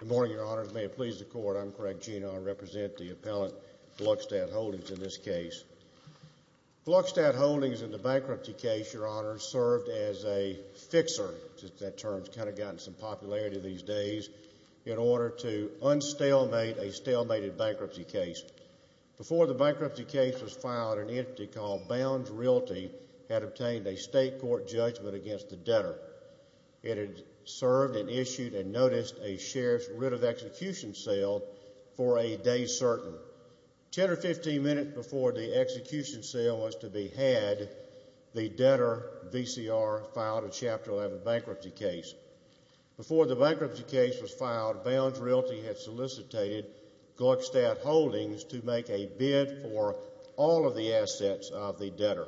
Good morning, Your Honors, and may it please the Court, I'm Craig Gena, I represent the appellant, Gluckstadt Holdings, in this case. Gluckstadt Holdings, in the bankruptcy case, Your Honors, served as a fixer, since that term has kind of gotten some popularity these days, in order to unstalemate a stalemated bankruptcy case. Before the bankruptcy case was filed, an entity called Bounds Realty had obtained a state court judgment against the debtor. It had served and issued and noticed a sheriff's writ of execution sale for a day certain. Ten or fifteen minutes before the execution sale was to be had, the debtor, VCR, filed a Chapter 11 bankruptcy case. Before the bankruptcy case was filed, Bounds Realty had solicited Gluckstadt Holdings to make a bid for all of the assets of the debtor,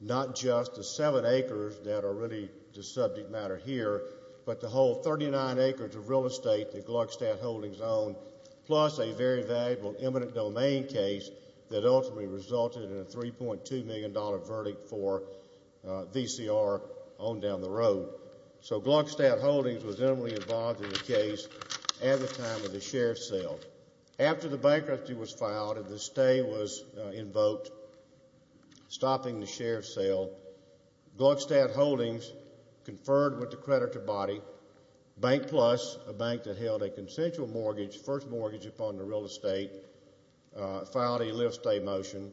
not just the seven acres that are really the subject matter here, but the whole 39 acres of real estate that Gluckstadt Holdings owned, plus a very valuable eminent domain case that ultimately resulted in a $3.2 million verdict for VCR on down the road. So Gluckstadt Holdings was intimately involved in the case at the time of the sheriff's sale. After the bankruptcy was filed and the stay was invoked stopping the sheriff's sale, Gluckstadt Holdings conferred with the creditor body, Bank Plus, a bank that held a consensual mortgage, first mortgage upon the real estate, filed a live-stay motion.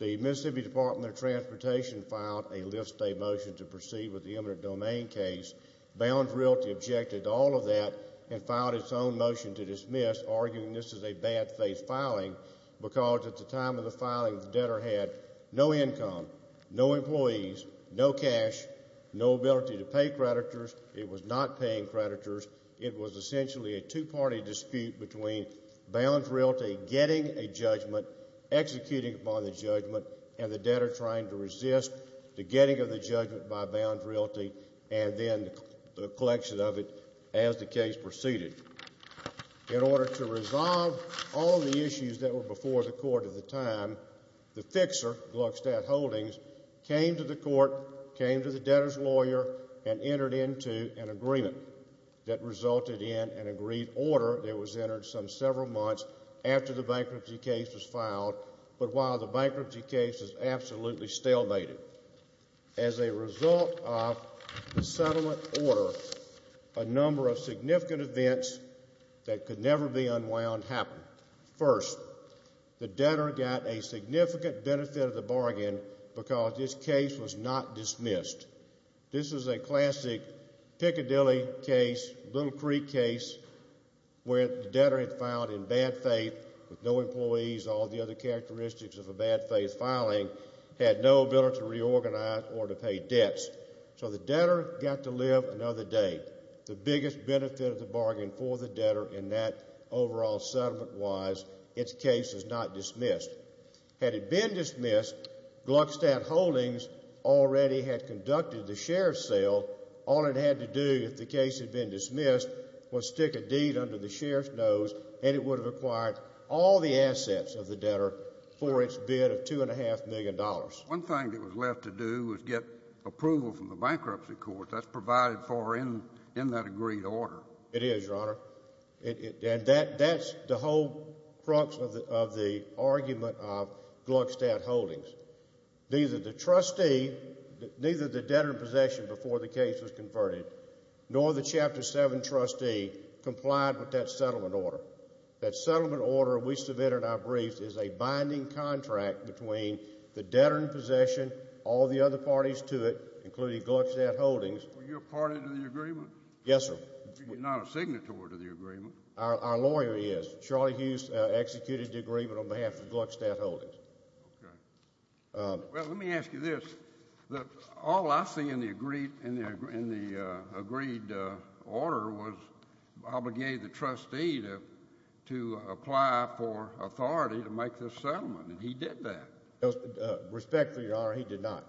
The Mississippi Department of Transportation filed a live-stay motion to proceed with the eminent domain case. Bounds Realty objected to all of that and filed its own motion to dismiss, arguing this is a bad-faith filing because at the time of the filing, the debtor had no income, no employees, no cash, no ability to pay creditors. It was not paying creditors. It was essentially a two-party dispute between Bounds Realty getting a judgment, executing upon the judgment, and the debtor trying to resist the getting of the judgment by Bounds Realty and then the collection of it as the case proceeded. In order to resolve all the issues that were before the court at the time, the fixer, Gluckstadt Holdings, came to the court, came to the debtor's lawyer, and entered into an agreement that resulted in an agreed order that was entered some several months after the bankruptcy case was filed, but while the bankruptcy case is absolutely stalemated. As a result of the settlement order, a number of significant events that could never be unwound happened. First, the debtor got a significant benefit of the bargain because this case was not dismissed. This is a classic Piccadilly case, Little Creek case, where the debtor had filed in bad faith with no employees, all the other characteristics of a bad-faith filing, had no ability to reorganize or to pay debts. So the debtor got to live another day. The biggest benefit of the bargain for the debtor in that overall settlement-wise, its case is not dismissed. Had it been dismissed, Gluckstadt Holdings already had conducted the sheriff's sale. All it had to do if the case had been dismissed was stick a deed under the sheriff's nose and it would have acquired all the assets of the debtor for its bid of $2.5 million. One thing that was left to do was get approval from the bankruptcy court. That's provided for in that agreed order. It is, Your Honor. And that's the whole crux of the argument of Gluckstadt Holdings. Neither the trustee, neither the debtor in possession before the case was converted, nor the Chapter 7 trustee complied with that settlement order. That settlement order we submitted in our briefs is a binding contract between the debtor in possession, all the other parties to it, including Gluckstadt Holdings. Were you a party to the agreement? Yes, sir. You're not a signatory to the agreement. Our lawyer is. Charlie Hughes executed the agreement on behalf of Gluckstadt Holdings. Okay. Well, let me ask you this. All I see in the agreed order was obligated the trustee to apply for authority to make this settlement. And he did that. Respectfully, Your Honor, he did not.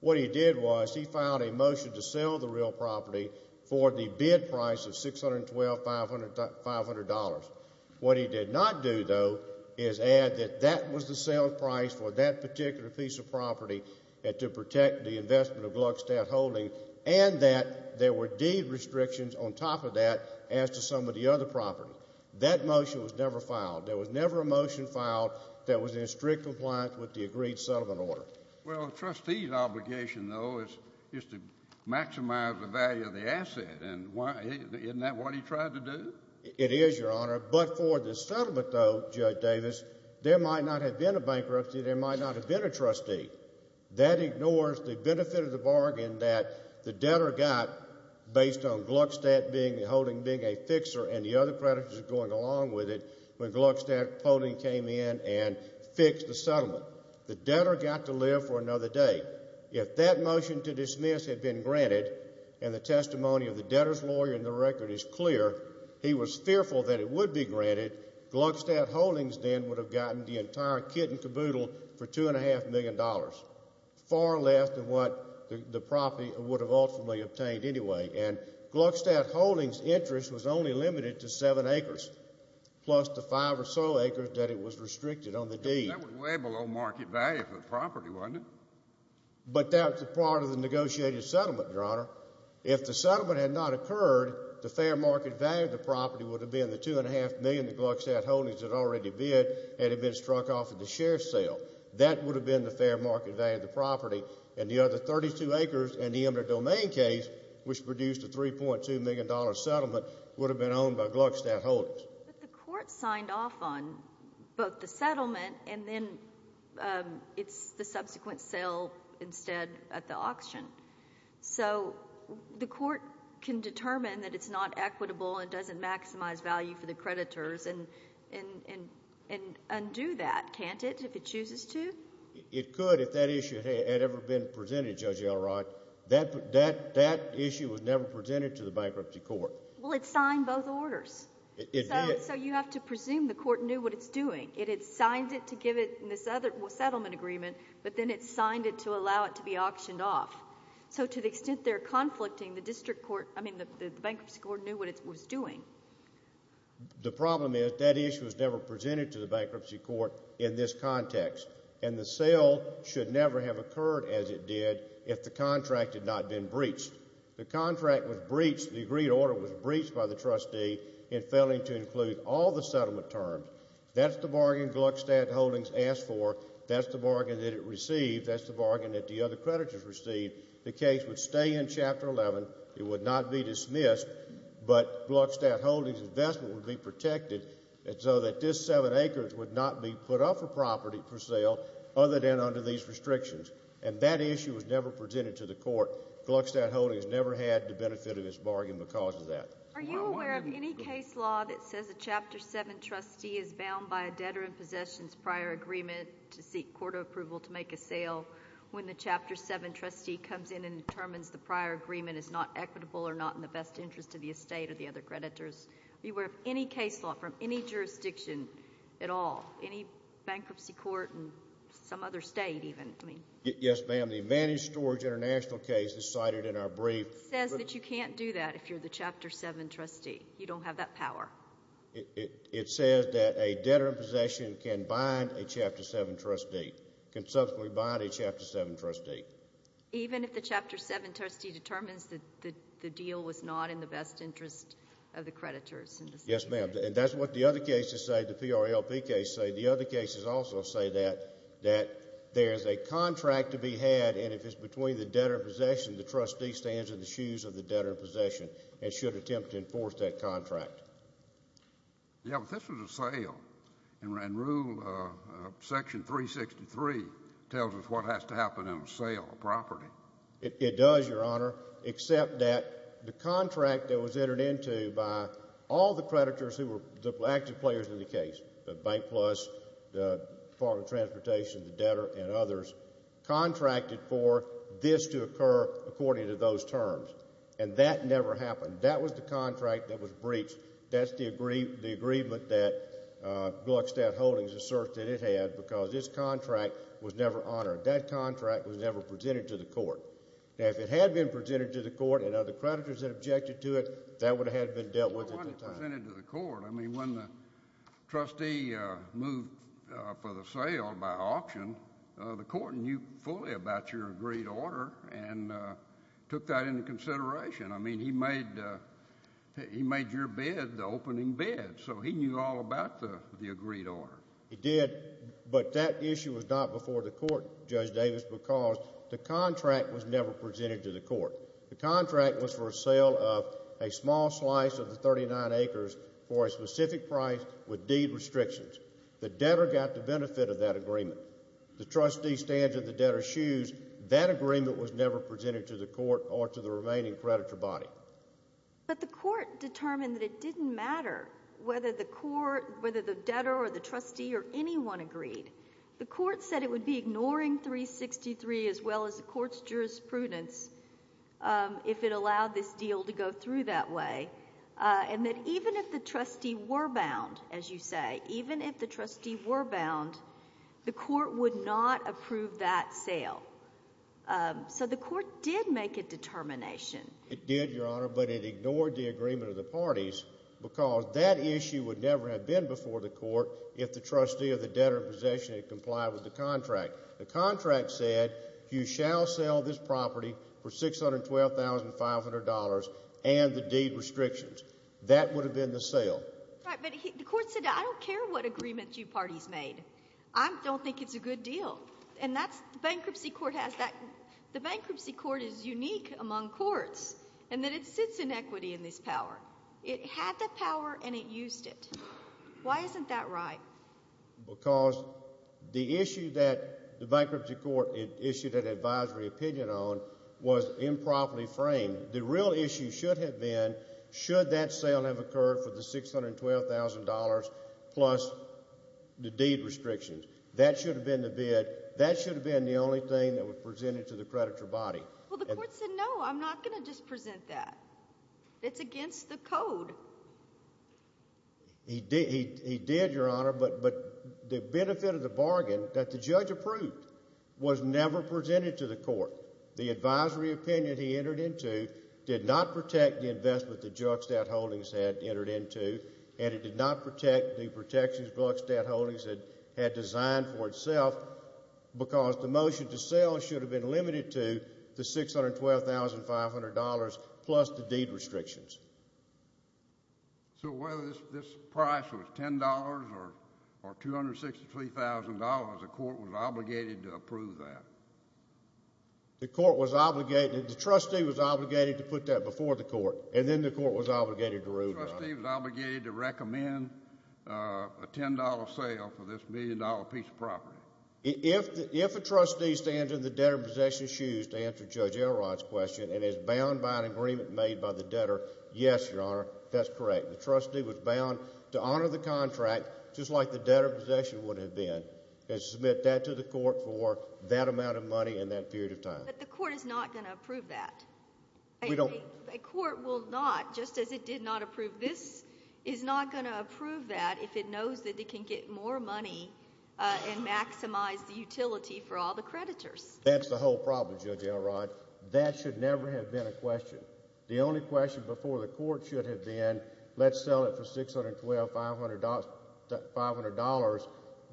What he did was he filed a motion to sell the real property for the bid price of $612,500. What he did not do, though, is add that that was the sale price for that particular piece of property to protect the investment of Gluckstadt Holdings, and that there were deed restrictions on top of that as to some of the other property. That motion was never filed. There was never a motion filed that was in strict compliance with the agreed settlement order. Well, a trustee's obligation, though, is to maximize the value of the asset. And isn't that what he tried to do? It is, Your Honor. But for the settlement, though, Judge Davis, there might not have been a bankruptcy. There might not have been a trustee. That ignores the benefit of the bargain that the debtor got based on Gluckstadt being a fixer and the other creditors going along with it when Gluckstadt Holding came in and fixed the settlement. The debtor got to live for another day. If that motion to dismiss had been granted, and the testimony of the debtor's lawyer in the record is clear, he was fearful that it would be granted, Gluckstadt Holdings then would have gotten the entire kit and caboodle for $2.5 million, far less than what the property would have ultimately obtained anyway. And Gluckstadt Holdings' interest was only limited to seven acres, plus the five or so acres that it was restricted on the deed. That was way below market value for the property, wasn't it? But that was part of the negotiated settlement, Your Honor. If the settlement had not occurred, the fair market value of the property would have been the $2.5 million that Gluckstadt Holdings had already bid and had been struck off at the share sale. That would have been the fair market value of the property, and the other 32 acres in the eminent domain case, which produced a $3.2 million settlement, would have been owned by Gluckstadt Holdings. But the court signed off on both the settlement and then it's the subsequent sale instead at the auction. So the court can determine that it's not equitable and doesn't maximize value for the creditors and undo that, can't it, if it chooses to? It could if that issue had ever been presented, Judge Elrod. That issue was never presented to the bankruptcy court. Well, it signed both orders. It did. So you have to presume the court knew what it's doing. It had signed it to give it in this other settlement agreement, but then it signed it to allow it to be auctioned off. So to the extent they're conflicting, the bankruptcy court knew what it was doing. The problem is that issue was never presented to the bankruptcy court in this context, and the sale should never have occurred as it did if the contract had not been breached. The contract was breached, the agreed order was breached by the trustee in failing to include all the settlement terms. That's the bargain Gluckstadt Holdings asked for. That's the bargain that it received. That's the bargain that the other creditors received. The case would stay in Chapter 11. It would not be dismissed, but Gluckstadt Holdings' investment would be protected so that this seven acres would not be put up for property for sale other than under these restrictions. And that issue was never presented to the court. Gluckstadt Holdings never had the benefit of this bargain because of that. Are you aware of any case law that says a Chapter 7 trustee is bound by a debtor in possession? I know when the Chapter 7 trustee comes in and determines the prior agreement is not equitable or not in the best interest of the estate or the other creditors. Are you aware of any case law from any jurisdiction at all, any bankruptcy court and some other state even? Yes, ma'am. The Advantage Storage International case is cited in our brief. It says that you can't do that if you're the Chapter 7 trustee. You don't have that power. It says that a debtor in possession can bind a Chapter 7 trustee, can subsequently bind a Chapter 7 trustee. Even if the Chapter 7 trustee determines that the deal was not in the best interest of the creditors? Yes, ma'am. And that's what the other cases say, the PRLP case say. The other cases also say that there is a contract to be had, and if it's between the debtor in possession, the trustee stands in the shoes of the debtor in possession and should attempt to enforce that contract. Yeah, but this was a sale, and Rule Section 363 tells us what has to happen in a sale of a property. It does, Your Honor, except that the contract that was entered into by all the creditors who were the active players in the case, the Bank Plus, the Department of Transportation, the debtor, and others, contracted for this to occur according to those terms, and that never happened. That was the contract that was breached. That's the agreement that Glockstadt Holdings asserted it had, because this contract was never honored. That contract was never presented to the court. Now, if it had been presented to the court and other creditors had objected to it, that would have been dealt with at the time. It wasn't presented to the court. I mean, when the trustee moved for the sale by auction, the court knew fully about your agreed order and took that into consideration. I mean, he made your bid the opening bid, so he knew all about the agreed order. He did, but that issue was not before the court, Judge Davis, because the contract was never presented to the court. The contract was for a sale of a small slice of the 39 acres for a specific price with deed restrictions. The debtor got the benefit of that agreement. The trustee stands in the debtor's shoes. That agreement was never presented to the court or to the remaining creditor body. But the court determined that it didn't matter whether the debtor or the trustee or anyone agreed. The court said it would be ignoring 363 as well as the court's jurisprudence if it allowed this deal to go through that way, and that even if the trustee were bound, as you say, even if the trustee were bound, the court would not approve that sale. So the court did make a determination. It did, Your Honor, but it ignored the agreement of the parties because that issue would never have been before the court if the trustee of the debtor in possession had complied with the contract. The contract said you shall sell this property for $612,500 and the deed restrictions. That would have been the sale. Right, but the court said, I don't care what agreement you parties made. I don't think it's a good deal. And that's, the bankruptcy court has that, the bankruptcy court is unique among courts in that it sits in equity in this power. It had that power and it used it. Why isn't that right? Because the issue that the bankruptcy court issued an advisory opinion on was improperly framed. The real issue should have been, should that sale have occurred for the $612,000 plus the deed restrictions? That should have been the bid, that should have been the only thing that was presented to the creditor body. Well, the court said, no, I'm not going to just present that. It's against the code. He did, Your Honor, but the benefit of the bargain that the judge approved was never presented to the court. The advisory opinion he entered into did not protect the investment that Juxtad Holdings had entered into and it did not protect the protections Juxtad Holdings had designed for itself because the motion to sell should have been limited to the $612,500 plus the deed restrictions. So whether this price was $10 or $263,000, the court was obligated to approve that? The court was obligated, the trustee was obligated to put that before the court and then the court was obligated to rule, Your Honor. The trustee was obligated to recommend a $10 sale for this million dollar piece of property? If a trustee stands in the debtor possession's shoes to answer Judge Elrod's question and is bound by an agreement made by the debtor, yes, Your Honor, that's correct. The trustee was bound to honor the contract just like the debtor possession would have been and submit that to the court for that amount of money and that period of time. But the court is not going to approve that? A court will not, just as it did not approve this, is not going to approve that if it knows that it can get more money and maximize the utility for all the creditors? That's the whole problem, Judge Elrod. That should never have been a question. The only question before the court should have been, let's sell it for $612,500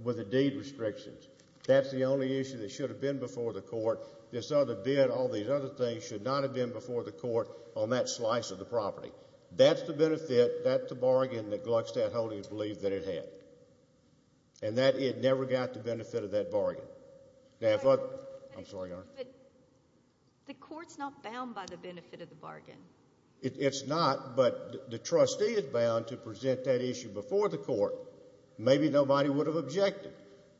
with the deed restrictions. That's the only issue that should have been before the court. This other bid, all these other things should not have been before the court on that slice of the property. That's the benefit, that's the bargain that Gluckstadt Holdings believed that it had. And that it never got the benefit of that bargain. The court's not bound by the benefit of the bargain? It's not, but the trustee is bound to present that issue before the court. Maybe nobody would have objected.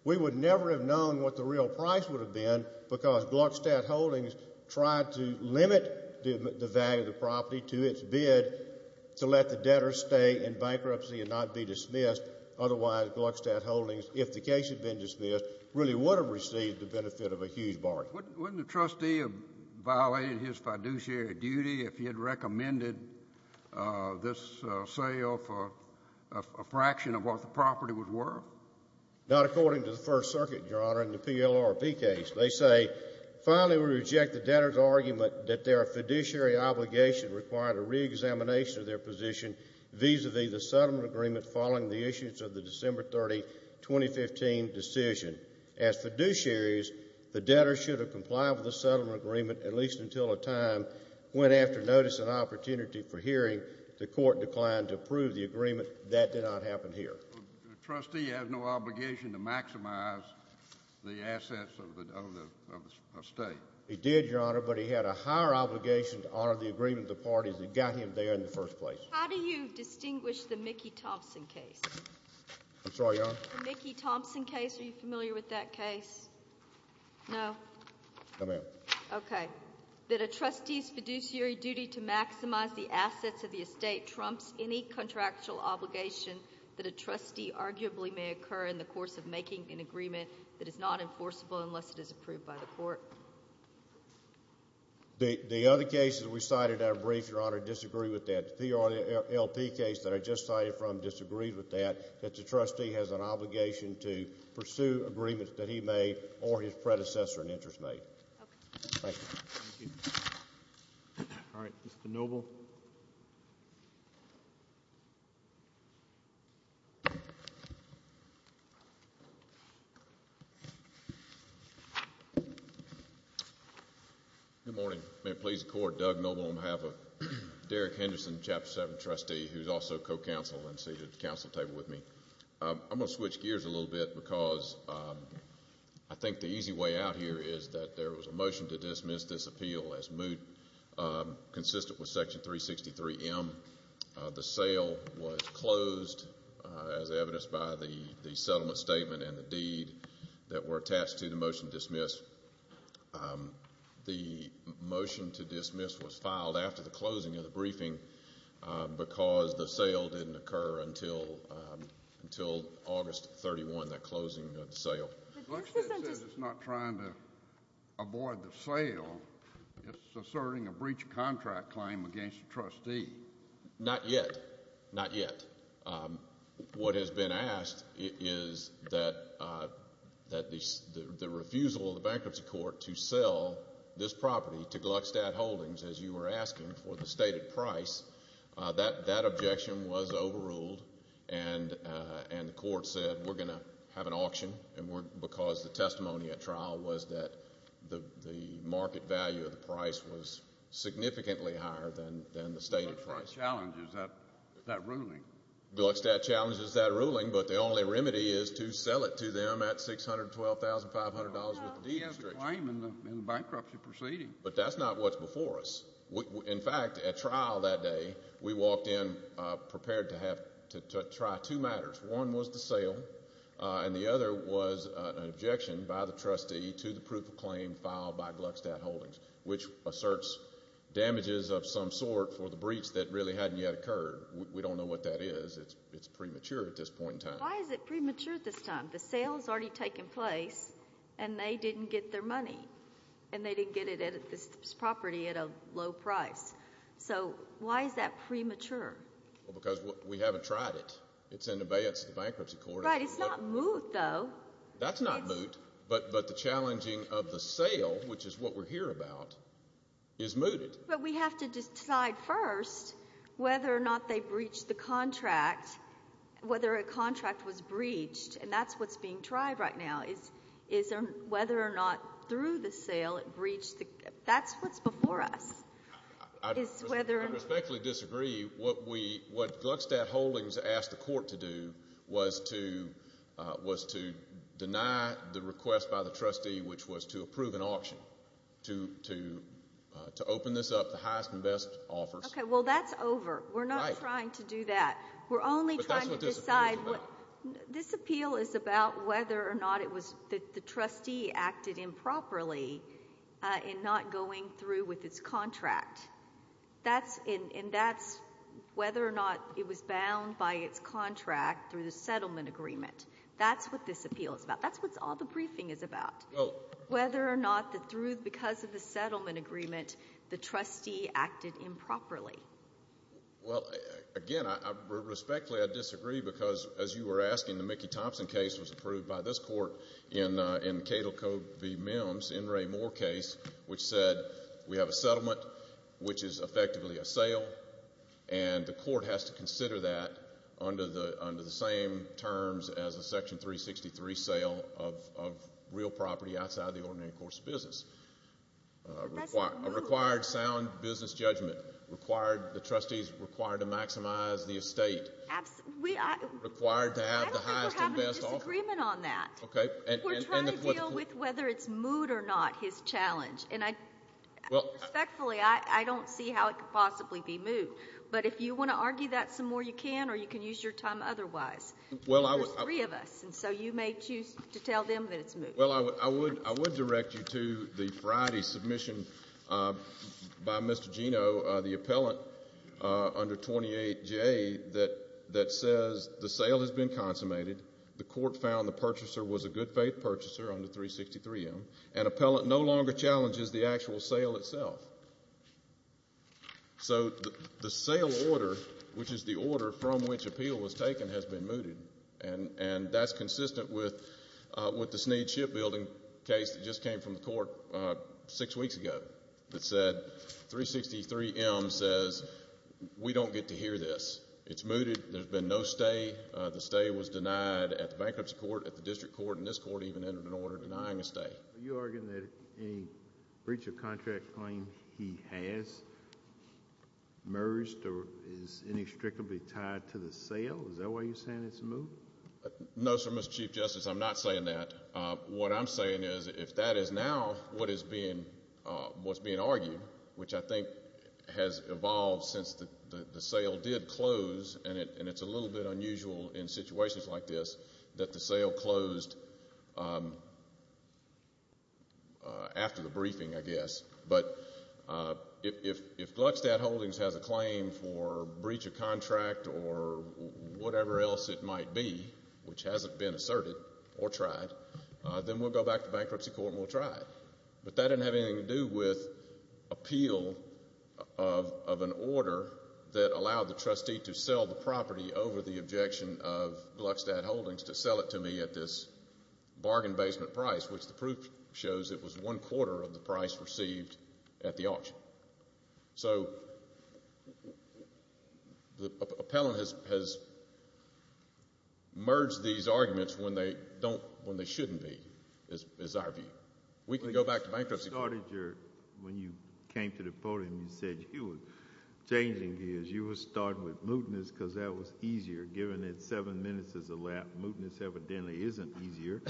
We would never have known what the real price would have been because Gluckstadt Holdings tried to limit the value of the property to its bid to let the debtor stay in bankruptcy and not be dismissed. Otherwise, Gluckstadt Holdings, if the case had been dismissed, really would have received the benefit of a huge bargain. Wouldn't the trustee have violated his fiduciary duty if he had recommended this sale for a fraction of what the property was worth? Not according to the First Circuit, Your Honor, in the PLRP case. They say, finally, we reject the debtor's argument that their fiduciary obligation required a reexamination of their position vis-a-vis the settlement agreement following the issues of the December 30, 2015, decision. As fiduciaries, the debtor should have complied with the settlement agreement at least until a time when, after notice and opportunity for hearing, the court declined to approve the agreement. That did not happen here. The trustee has no obligation to maximize the assets of the state? He did, Your Honor, but he had a higher obligation to honor the agreement of the parties that got him there in the first place. How do you distinguish the Mickey Thompson case? I'm sorry, Your Honor? The Mickey Thompson case? Are you familiar with that case? No? No, ma'am. Okay. That a trustee's fiduciary duty to maximize the assets of the estate trumps any contractual obligation that a trustee arguably may occur in the course of making an agreement that is not enforceable unless it is approved by the court? No, ma'am. The other cases we cited that are brief, Your Honor, disagree with that. The TRLP case that I just cited from disagrees with that, that the trustee has an obligation to pursue agreements that he made or his predecessor in interest made. Okay. Thank you. Thank you. All right. Mr. Noble? Good morning. May it please the Court, Doug Noble on behalf of Derek Henderson, Chapter 7 Trustee, who's also co-counsel and seated at the council table with me. I'm going to switch gears a little bit because I think the easy way out here is that there The sale was closed as evidenced by the settlement statement and the deed that were attached to the motion to dismiss. The motion to dismiss was filed after the closing of the briefing because the sale didn't occur until August 31, that closing of the sale. Gluckstadt says it's not trying to avoid the sale. It's asserting a breach of contract claim against the trustee. Not yet. Not yet. What has been asked is that the refusal of the bankruptcy court to sell this property to Gluckstadt Holdings, as you were asking for the stated price, that objection was overruled and the court said we're going to have an auction because the testimony at trial was that the market value of the price was significantly higher than the stated price. Gluckstadt challenges that ruling. Gluckstadt challenges that ruling, but the only remedy is to sell it to them at $612,500 with the deed restriction. He has a claim in the bankruptcy proceeding. But that's not what's before us. In fact, at trial that day, we walked in prepared to try two matters. One was the sale, and the other was an objection by the trustee to the proof of claim filed by Gluckstadt Holdings, which asserts damages of some sort for the breach that really hadn't yet occurred. We don't know what that is. It's premature at this point in time. Why is it premature at this time? The sale has already taken place, and they didn't get their money. And they didn't get it at this property at a low price. So, why is that premature? Because we haven't tried it. It's in abeyance of the bankruptcy court. Right, it's not moot, though. That's not moot. But the challenging of the sale, which is what we're here about, is mooted. But we have to decide first whether or not they breached the contract, whether a contract was breached. And that's what's being tried right now. Whether or not, through the sale, it breached the contract. That's what's before us. I respectfully disagree. What Gluckstadt Holdings asked the court to do was to deny the request by the trustee, which was to approve an auction, to open this up to the highest and best offers. Okay, well, that's over. We're not trying to do that. We're only trying to decide. But that's what this appeal is about. This appeal is about whether or not the trustee acted improperly in not going through with its contract. And that's whether or not it was bound by its contract through the settlement agreement. That's what this appeal is about. That's what all the briefing is about. Whether or not, because of the settlement agreement, the trustee acted improperly. Well, again, I respectfully disagree because, as you were asking, the Mickey Thompson case was approved by this court in Cato Covey Mims, N. Ray Moore case, which said we have a settlement which is effectively a sale, and the court has to consider that under the same terms as a Section 363 sale of real property outside the ordinary course of business. That's a move. A required sound business judgment. The trustees required to maximize the estate. Absolutely. Required to have the highest and best offer. I don't think we're having a disagreement on that. We're trying to deal with whether it's moved or not, his challenge. And respectfully, I don't see how it could possibly be moved. But if you want to argue that some more, you can, or you can use your time otherwise. There's three of us, and so you may choose to tell them that it's moved. Well, I would direct you to the Friday submission by Mr. Geno, the appellant under 28J, that says the sale has been consummated, the court found the purchaser was a good-faith purchaser under 363M, and appellant no longer challenges the actual sale itself. So the sale order, which is the order from which appeal was taken, has been mooted, and that's consistent with the Sneed Shipbuilding case that just came from the court six weeks ago that said 363M says we don't get to hear this. It's mooted. There's been no stay. The stay was denied at the bankruptcy court, at the district court, and this court even entered an order denying a stay. Are you arguing that a breach of contract claim he has merged or is inextricably tied to the sale? Is that why you're saying it's moved? No, sir, Mr. Chief Justice, I'm not saying that. What I'm saying is if that is now what is being argued, which I think has evolved since the sale did close, and it's a little bit unusual in situations like this that the sale closed after the briefing, I guess, but if Gluckstadt Holdings has a claim for breach of contract or whatever else it might be, which hasn't been asserted or tried, then we'll go back to bankruptcy court and we'll try it. But that doesn't have anything to do with appeal of an order that allowed the trustee to sell the property over the objection of Gluckstadt Holdings to sell it to me at this bargain basement price, which the proof shows it was one quarter of the price received at the auction. So the appellant has merged these arguments when they shouldn't be, is our view. We can go back to bankruptcy court. When you came to the podium, you said you were changing gears. You were starting with mootness because that was easier. Given that seven minutes is a lap, mootness evidently isn't easier.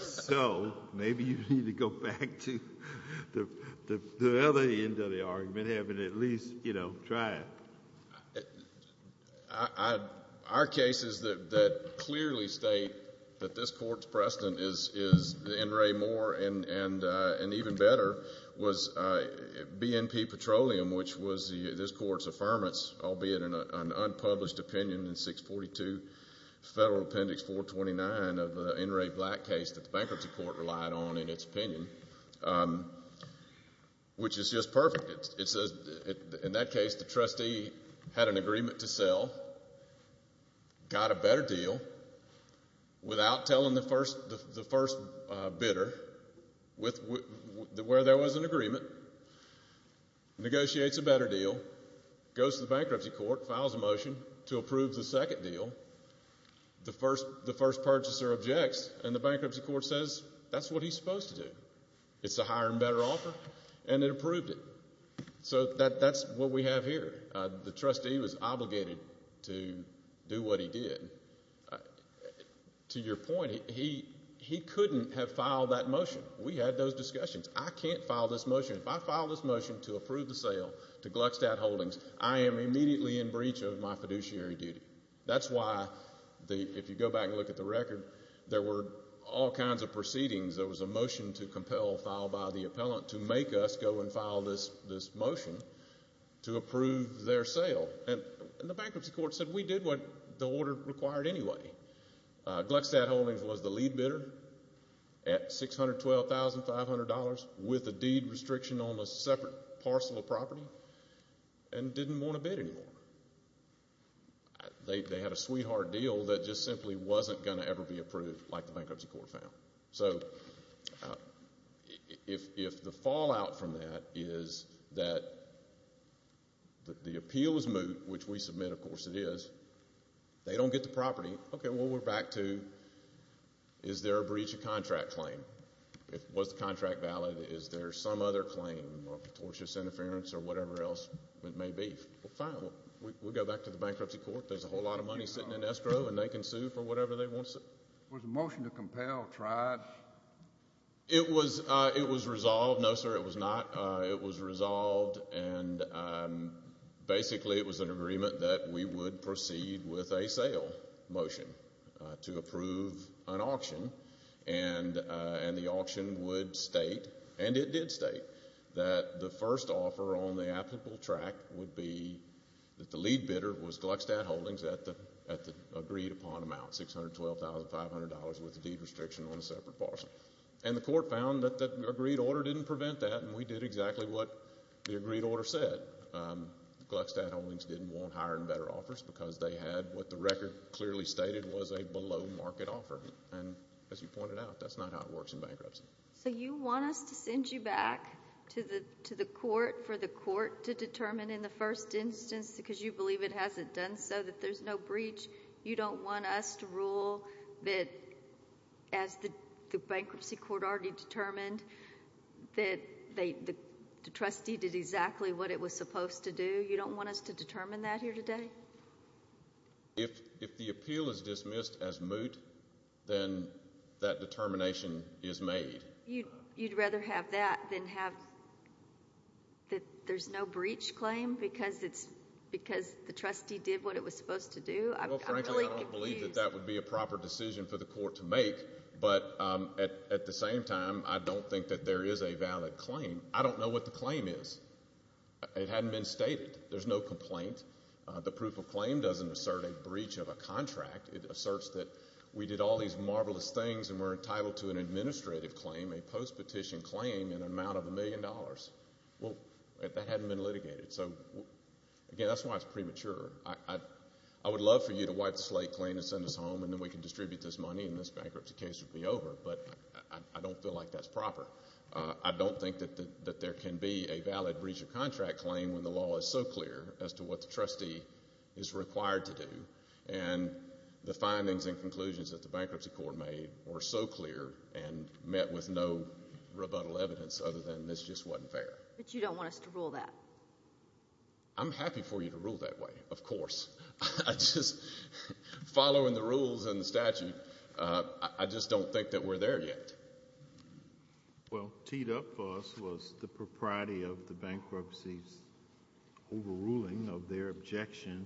So maybe you need to go back to the other end of the argument, having at least tried. Our cases that clearly state that this court's precedent is the NRA more and even better was BNP Petroleum, which was this court's affirmance, albeit an unpublished opinion in 642 Federal Appendix 429 of an NRA black case that the bankruptcy court relied on in its opinion, which is just perfect. In that case, the trustee had an agreement to sell, got a better deal without telling the first bidder where there was an agreement, negotiates a better deal, goes to the bankruptcy court, files a motion to approve the second deal. The first purchaser objects, and the bankruptcy court says that's what he's supposed to do. It's a higher and better offer, and it approved it. So that's what we have here. The trustee was obligated to do what he did. To your point, he couldn't have filed that motion. We had those discussions. I can't file this motion. If I file this motion to approve the sale to Gluckstadt Holdings, I am immediately in breach of my fiduciary duty. That's why, if you go back and look at the record, there were all kinds of proceedings. There was a motion to compel filed by the appellant to make us go and file this motion to approve their sale. And the bankruptcy court said we did what the order required anyway. Gluckstadt Holdings was the lead bidder at $612,500 with a deed restriction on a separate parcel of property and didn't want to bid anymore. They had a sweetheart deal that just simply wasn't going to ever be approved like the bankruptcy court found. So if the fallout from that is that the appeal is moot, which we submit, of course it is, they don't get the property, okay, well, we're back to is there a breach of contract claim? Was the contract valid? Is there some other claim of tortious interference or whatever else it may be? Well, fine. We'll go back to the bankruptcy court. There's a whole lot of money sitting in escrow, and they can sue for whatever they want to sue. Was the motion to compel tried? It was resolved. No, sir, it was not. And basically it was an agreement that we would proceed with a sale motion to approve an auction, and the auction would state, and it did state, that the first offer on the applicable track would be that the lead bidder was Gluckstadt Holdings at the agreed upon amount, $612,500 with a deed restriction on a separate parcel. And the court found that the agreed order didn't prevent that, and we did exactly what the agreed order said. Gluckstadt Holdings didn't want higher and better offers because they had what the record clearly stated was a below market offer. And as you pointed out, that's not how it works in bankruptcy. So you want us to send you back to the court for the court to determine in the first instance, because you believe it hasn't done so, that there's no breach. You don't want us to rule that as the bankruptcy court already determined that the trustee did exactly what it was supposed to do. You don't want us to determine that here today? If the appeal is dismissed as moot, then that determination is made. You'd rather have that than have that there's no breach claim because the trustee did what it was supposed to do? Well, frankly, I don't believe that that would be a proper decision for the court to make. But at the same time, I don't think that there is a valid claim. I don't know what the claim is. It hadn't been stated. There's no complaint. The proof of claim doesn't assert a breach of a contract. It asserts that we did all these marvelous things and we're entitled to an administrative claim, a post-petition claim in an amount of a million dollars. Well, that hadn't been litigated. So, again, that's why it's premature. I would love for you to wipe the slate claim and send us home, and then we can distribute this money and this bankruptcy case would be over. But I don't feel like that's proper. I don't think that there can be a valid breach of contract claim when the law is so clear as to what the trustee is required to do. And the findings and conclusions that the bankruptcy court made were so clear and met with no rebuttal evidence other than this just wasn't fair. But you don't want us to rule that? I'm happy for you to rule that way, of course. Just following the rules and the statute, I just don't think that we're there yet. Well, teed up for us was the propriety of the bankruptcy's overruling of their objection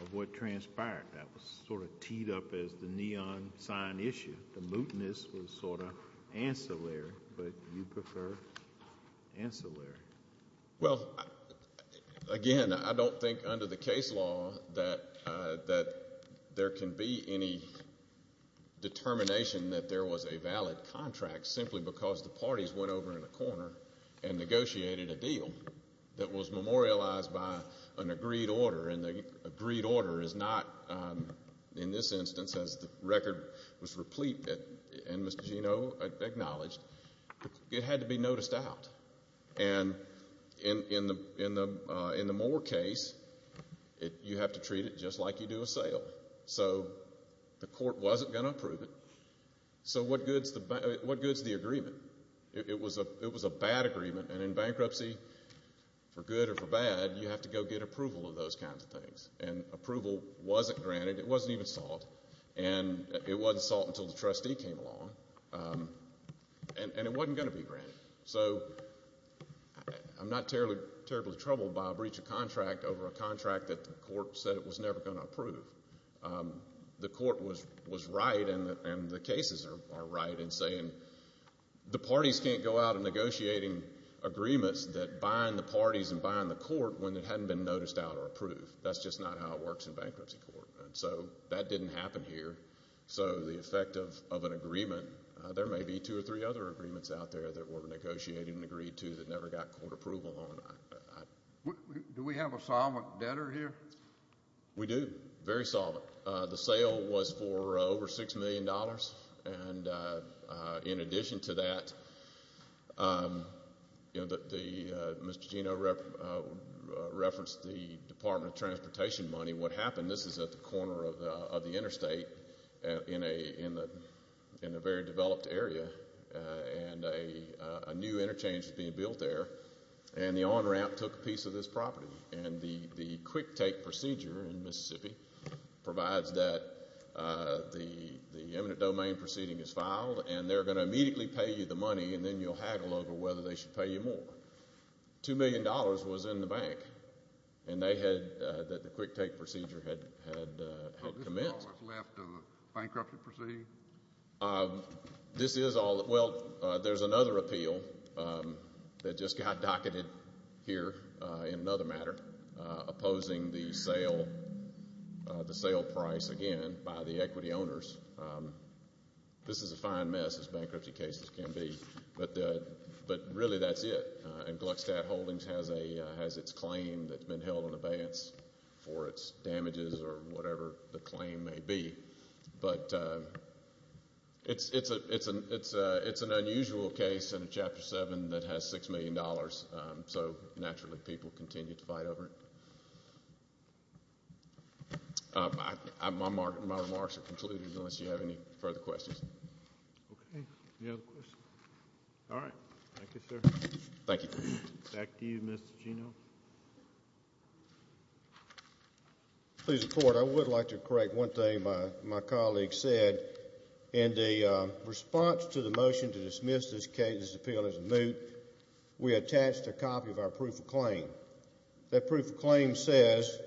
of what transpired. That was sort of teed up as the neon sign issue. The mootness was sort of ancillary, but you prefer ancillary. Well, again, I don't think under the case law that there can be any determination that there was a valid contract simply because the parties went over in a corner and negotiated a deal that was memorialized by an agreed order. And the agreed order is not, in this instance, as the record was replete and Mr. Geno acknowledged, it had to be noticed out. And in the Moore case, you have to treat it just like you do a sale. So the court wasn't going to approve it. So what good is the agreement? It was a bad agreement. And in bankruptcy, for good or for bad, you have to go get approval of those kinds of things. And approval wasn't granted. It wasn't even sought. And it wasn't sought until the trustee came along. And it wasn't going to be granted. So I'm not terribly troubled by a breach of contract over a contract that the court said it was never going to approve. The court was right and the cases are right in saying the parties can't go out and negotiating agreements that bind the parties and bind the court when it hadn't been noticed out or approved. That's just not how it works in bankruptcy court. And so that didn't happen here. So the effect of an agreement, there may be two or three other agreements out there that were negotiated and agreed to that never got court approval on. Do we have a solemn debtor here? We do. Very solemn. The sale was for over $6 million. And in addition to that, Mr. Geno referenced the Department of Transportation money. What happened, this is at the corner of the interstate in a very developed area. And a new interchange is being built there. And the on-ramp took a piece of this property. And the quick take procedure in Mississippi provides that the eminent domain proceeding is filed and they're going to immediately pay you the money and then you'll haggle over whether they should pay you more. $2 million was in the bank and they had the quick take procedure had commenced. So this is all that's left of the bankruptcy proceeding? This is all. Well, there's another appeal that just got docketed here in another matter, opposing the sale price again by the equity owners. This is a fine mess, as bankruptcy cases can be. But really that's it. And Gluckstadt Holdings has its claim that's been held in abeyance for its damages or whatever the claim may be. But it's an unusual case in a Chapter 7 that has $6 million. So naturally people continue to fight over it. My remarks are concluded unless you have any further questions. Okay. Any other questions? All right. Thank you, sir. Thank you. Back to you, Mr. Geno. Please, Your Honor, I would like to correct one thing my colleague said. In the response to the motion to dismiss this appeal as moot, we attached a copy of our proof of claim. That proof of claim says,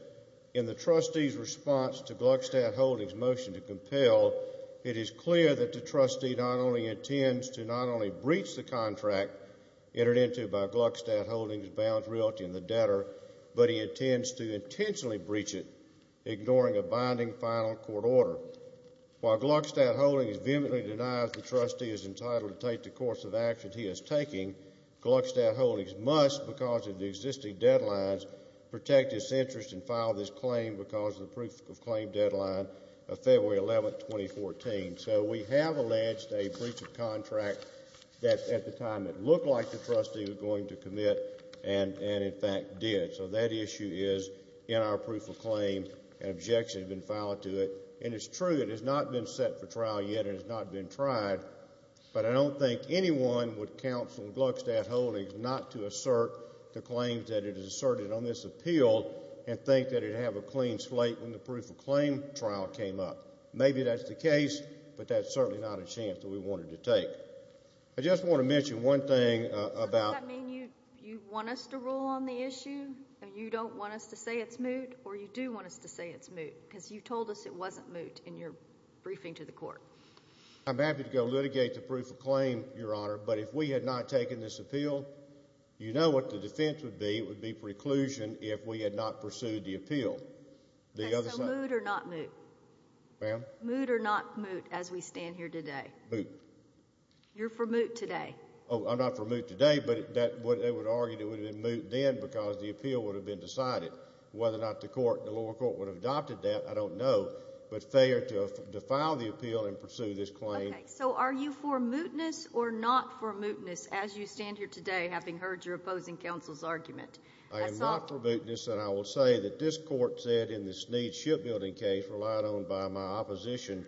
in the trustee's response to Gluckstadt Holdings' motion to compel, it is clear that the trustee not only intends to not only breach the contract entered into by Gluckstadt Holdings, bounds realty and the debtor, but he intends to intentionally breach it, ignoring a binding final court order. While Gluckstadt Holdings vehemently denies the trustee is entitled to take the course of action he is taking, Gluckstadt Holdings must, because of the existing deadlines, protect its interest and file this claim because of the proof of claim deadline of February 11, 2014. So we have alleged a breach of contract that at the time it looked like the trustee was going to commit and, in fact, did. So that issue is in our proof of claim. An objection has been filed to it. And it's true it has not been set for trial yet and has not been tried, but I don't think anyone would counsel Gluckstadt Holdings not to assert the claims that it has asserted on this appeal and think that it would have a clean slate when the proof of claim trial came up. Maybe that's the case, but that's certainly not a chance that we want it to take. I just want to mention one thing about – Does that mean you want us to rule on the issue and you don't want us to say it's moot, or you do want us to say it's moot because you told us it wasn't moot in your briefing to the court? I'm happy to go litigate the proof of claim, Your Honor, but if we had not taken this appeal, you know what the defense would be. It would be preclusion if we had not pursued the appeal. So moot or not moot? Ma'am? Moot or not moot as we stand here today? Moot. You're for moot today. Oh, I'm not for moot today, but they would argue it would have been moot then because the appeal would have been decided. Whether or not the court, the lower court, would have adopted that, I don't know. But failure to defile the appeal and pursue this claim. Okay. So are you for mootness or not for mootness as you stand here today having heard your opposing counsel's argument? I am not for mootness, and I will say that this court said in this need shipbuilding case relied on by my opposition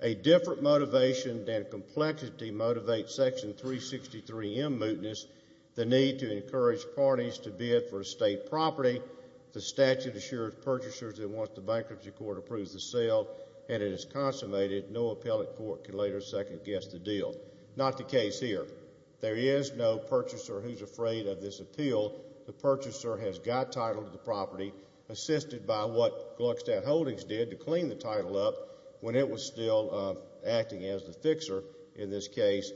a different motivation than complexity motivates Section 363M mootness, the need to encourage parties to bid for estate property. The statute assures purchasers that once the bankruptcy court approves the sale and it is consummated, no appellate court can later second-guess the deal. Not the case here. There is no purchaser who's afraid of this appeal. The purchaser has got title to the property, assisted by what Gluckstadt Holdings did to clean the title up when it was still acting as the fixer in this case.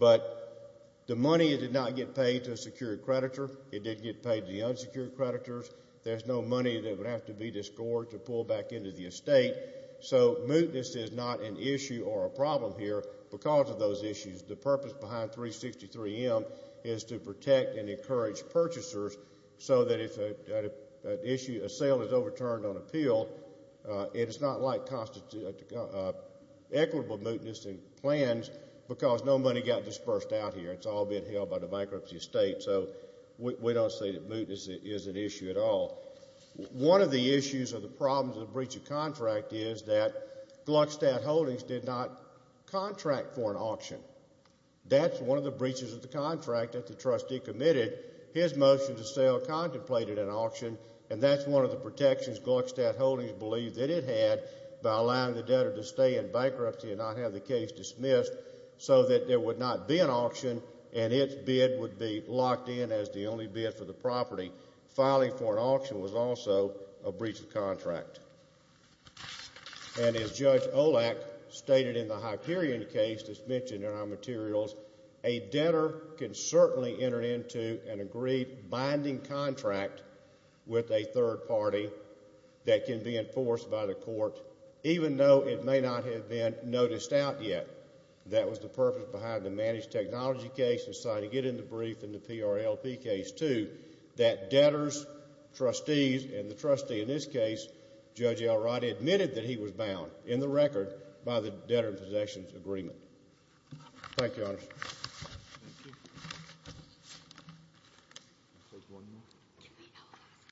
But the money did not get paid to a secured creditor. It didn't get paid to the unsecured creditors. There's no money that would have to be discord to pull back into the estate. So mootness is not an issue or a problem here because of those issues. The purpose behind 363M is to protect and encourage purchasers so that if an issue, a sale is overturned on appeal, it is not like equitable mootness in plans because no money got dispersed out here. It's all being held by the bankruptcy estate. So we don't say that mootness is an issue at all. One of the issues or the problems of the breach of contract is that Gluckstadt Holdings did not contract for an auction. That's one of the breaches of the contract that the trustee committed. His motion to sell contemplated an auction, and that's one of the protections Gluckstadt Holdings believed that it had by allowing the debtor to stay in bankruptcy and not have the case dismissed so that there would not be an auction and its bid would be locked in as the only bid for the property. Filing for an auction was also a breach of contract. And as Judge Olak stated in the Hyperion case that's mentioned in our materials, a debtor can certainly enter into an agreed binding contract with a third party that can be enforced by the court, even though it may not have been noticed out yet. That was the purpose behind the managed technology case and signing it in the brief in the PRLP case, too, that debtors, trustees, and the trustee in this case, Judge Elrod, admitted that he was bound in the record by the debtor-in-possessions agreement. Thank you, Your Honor.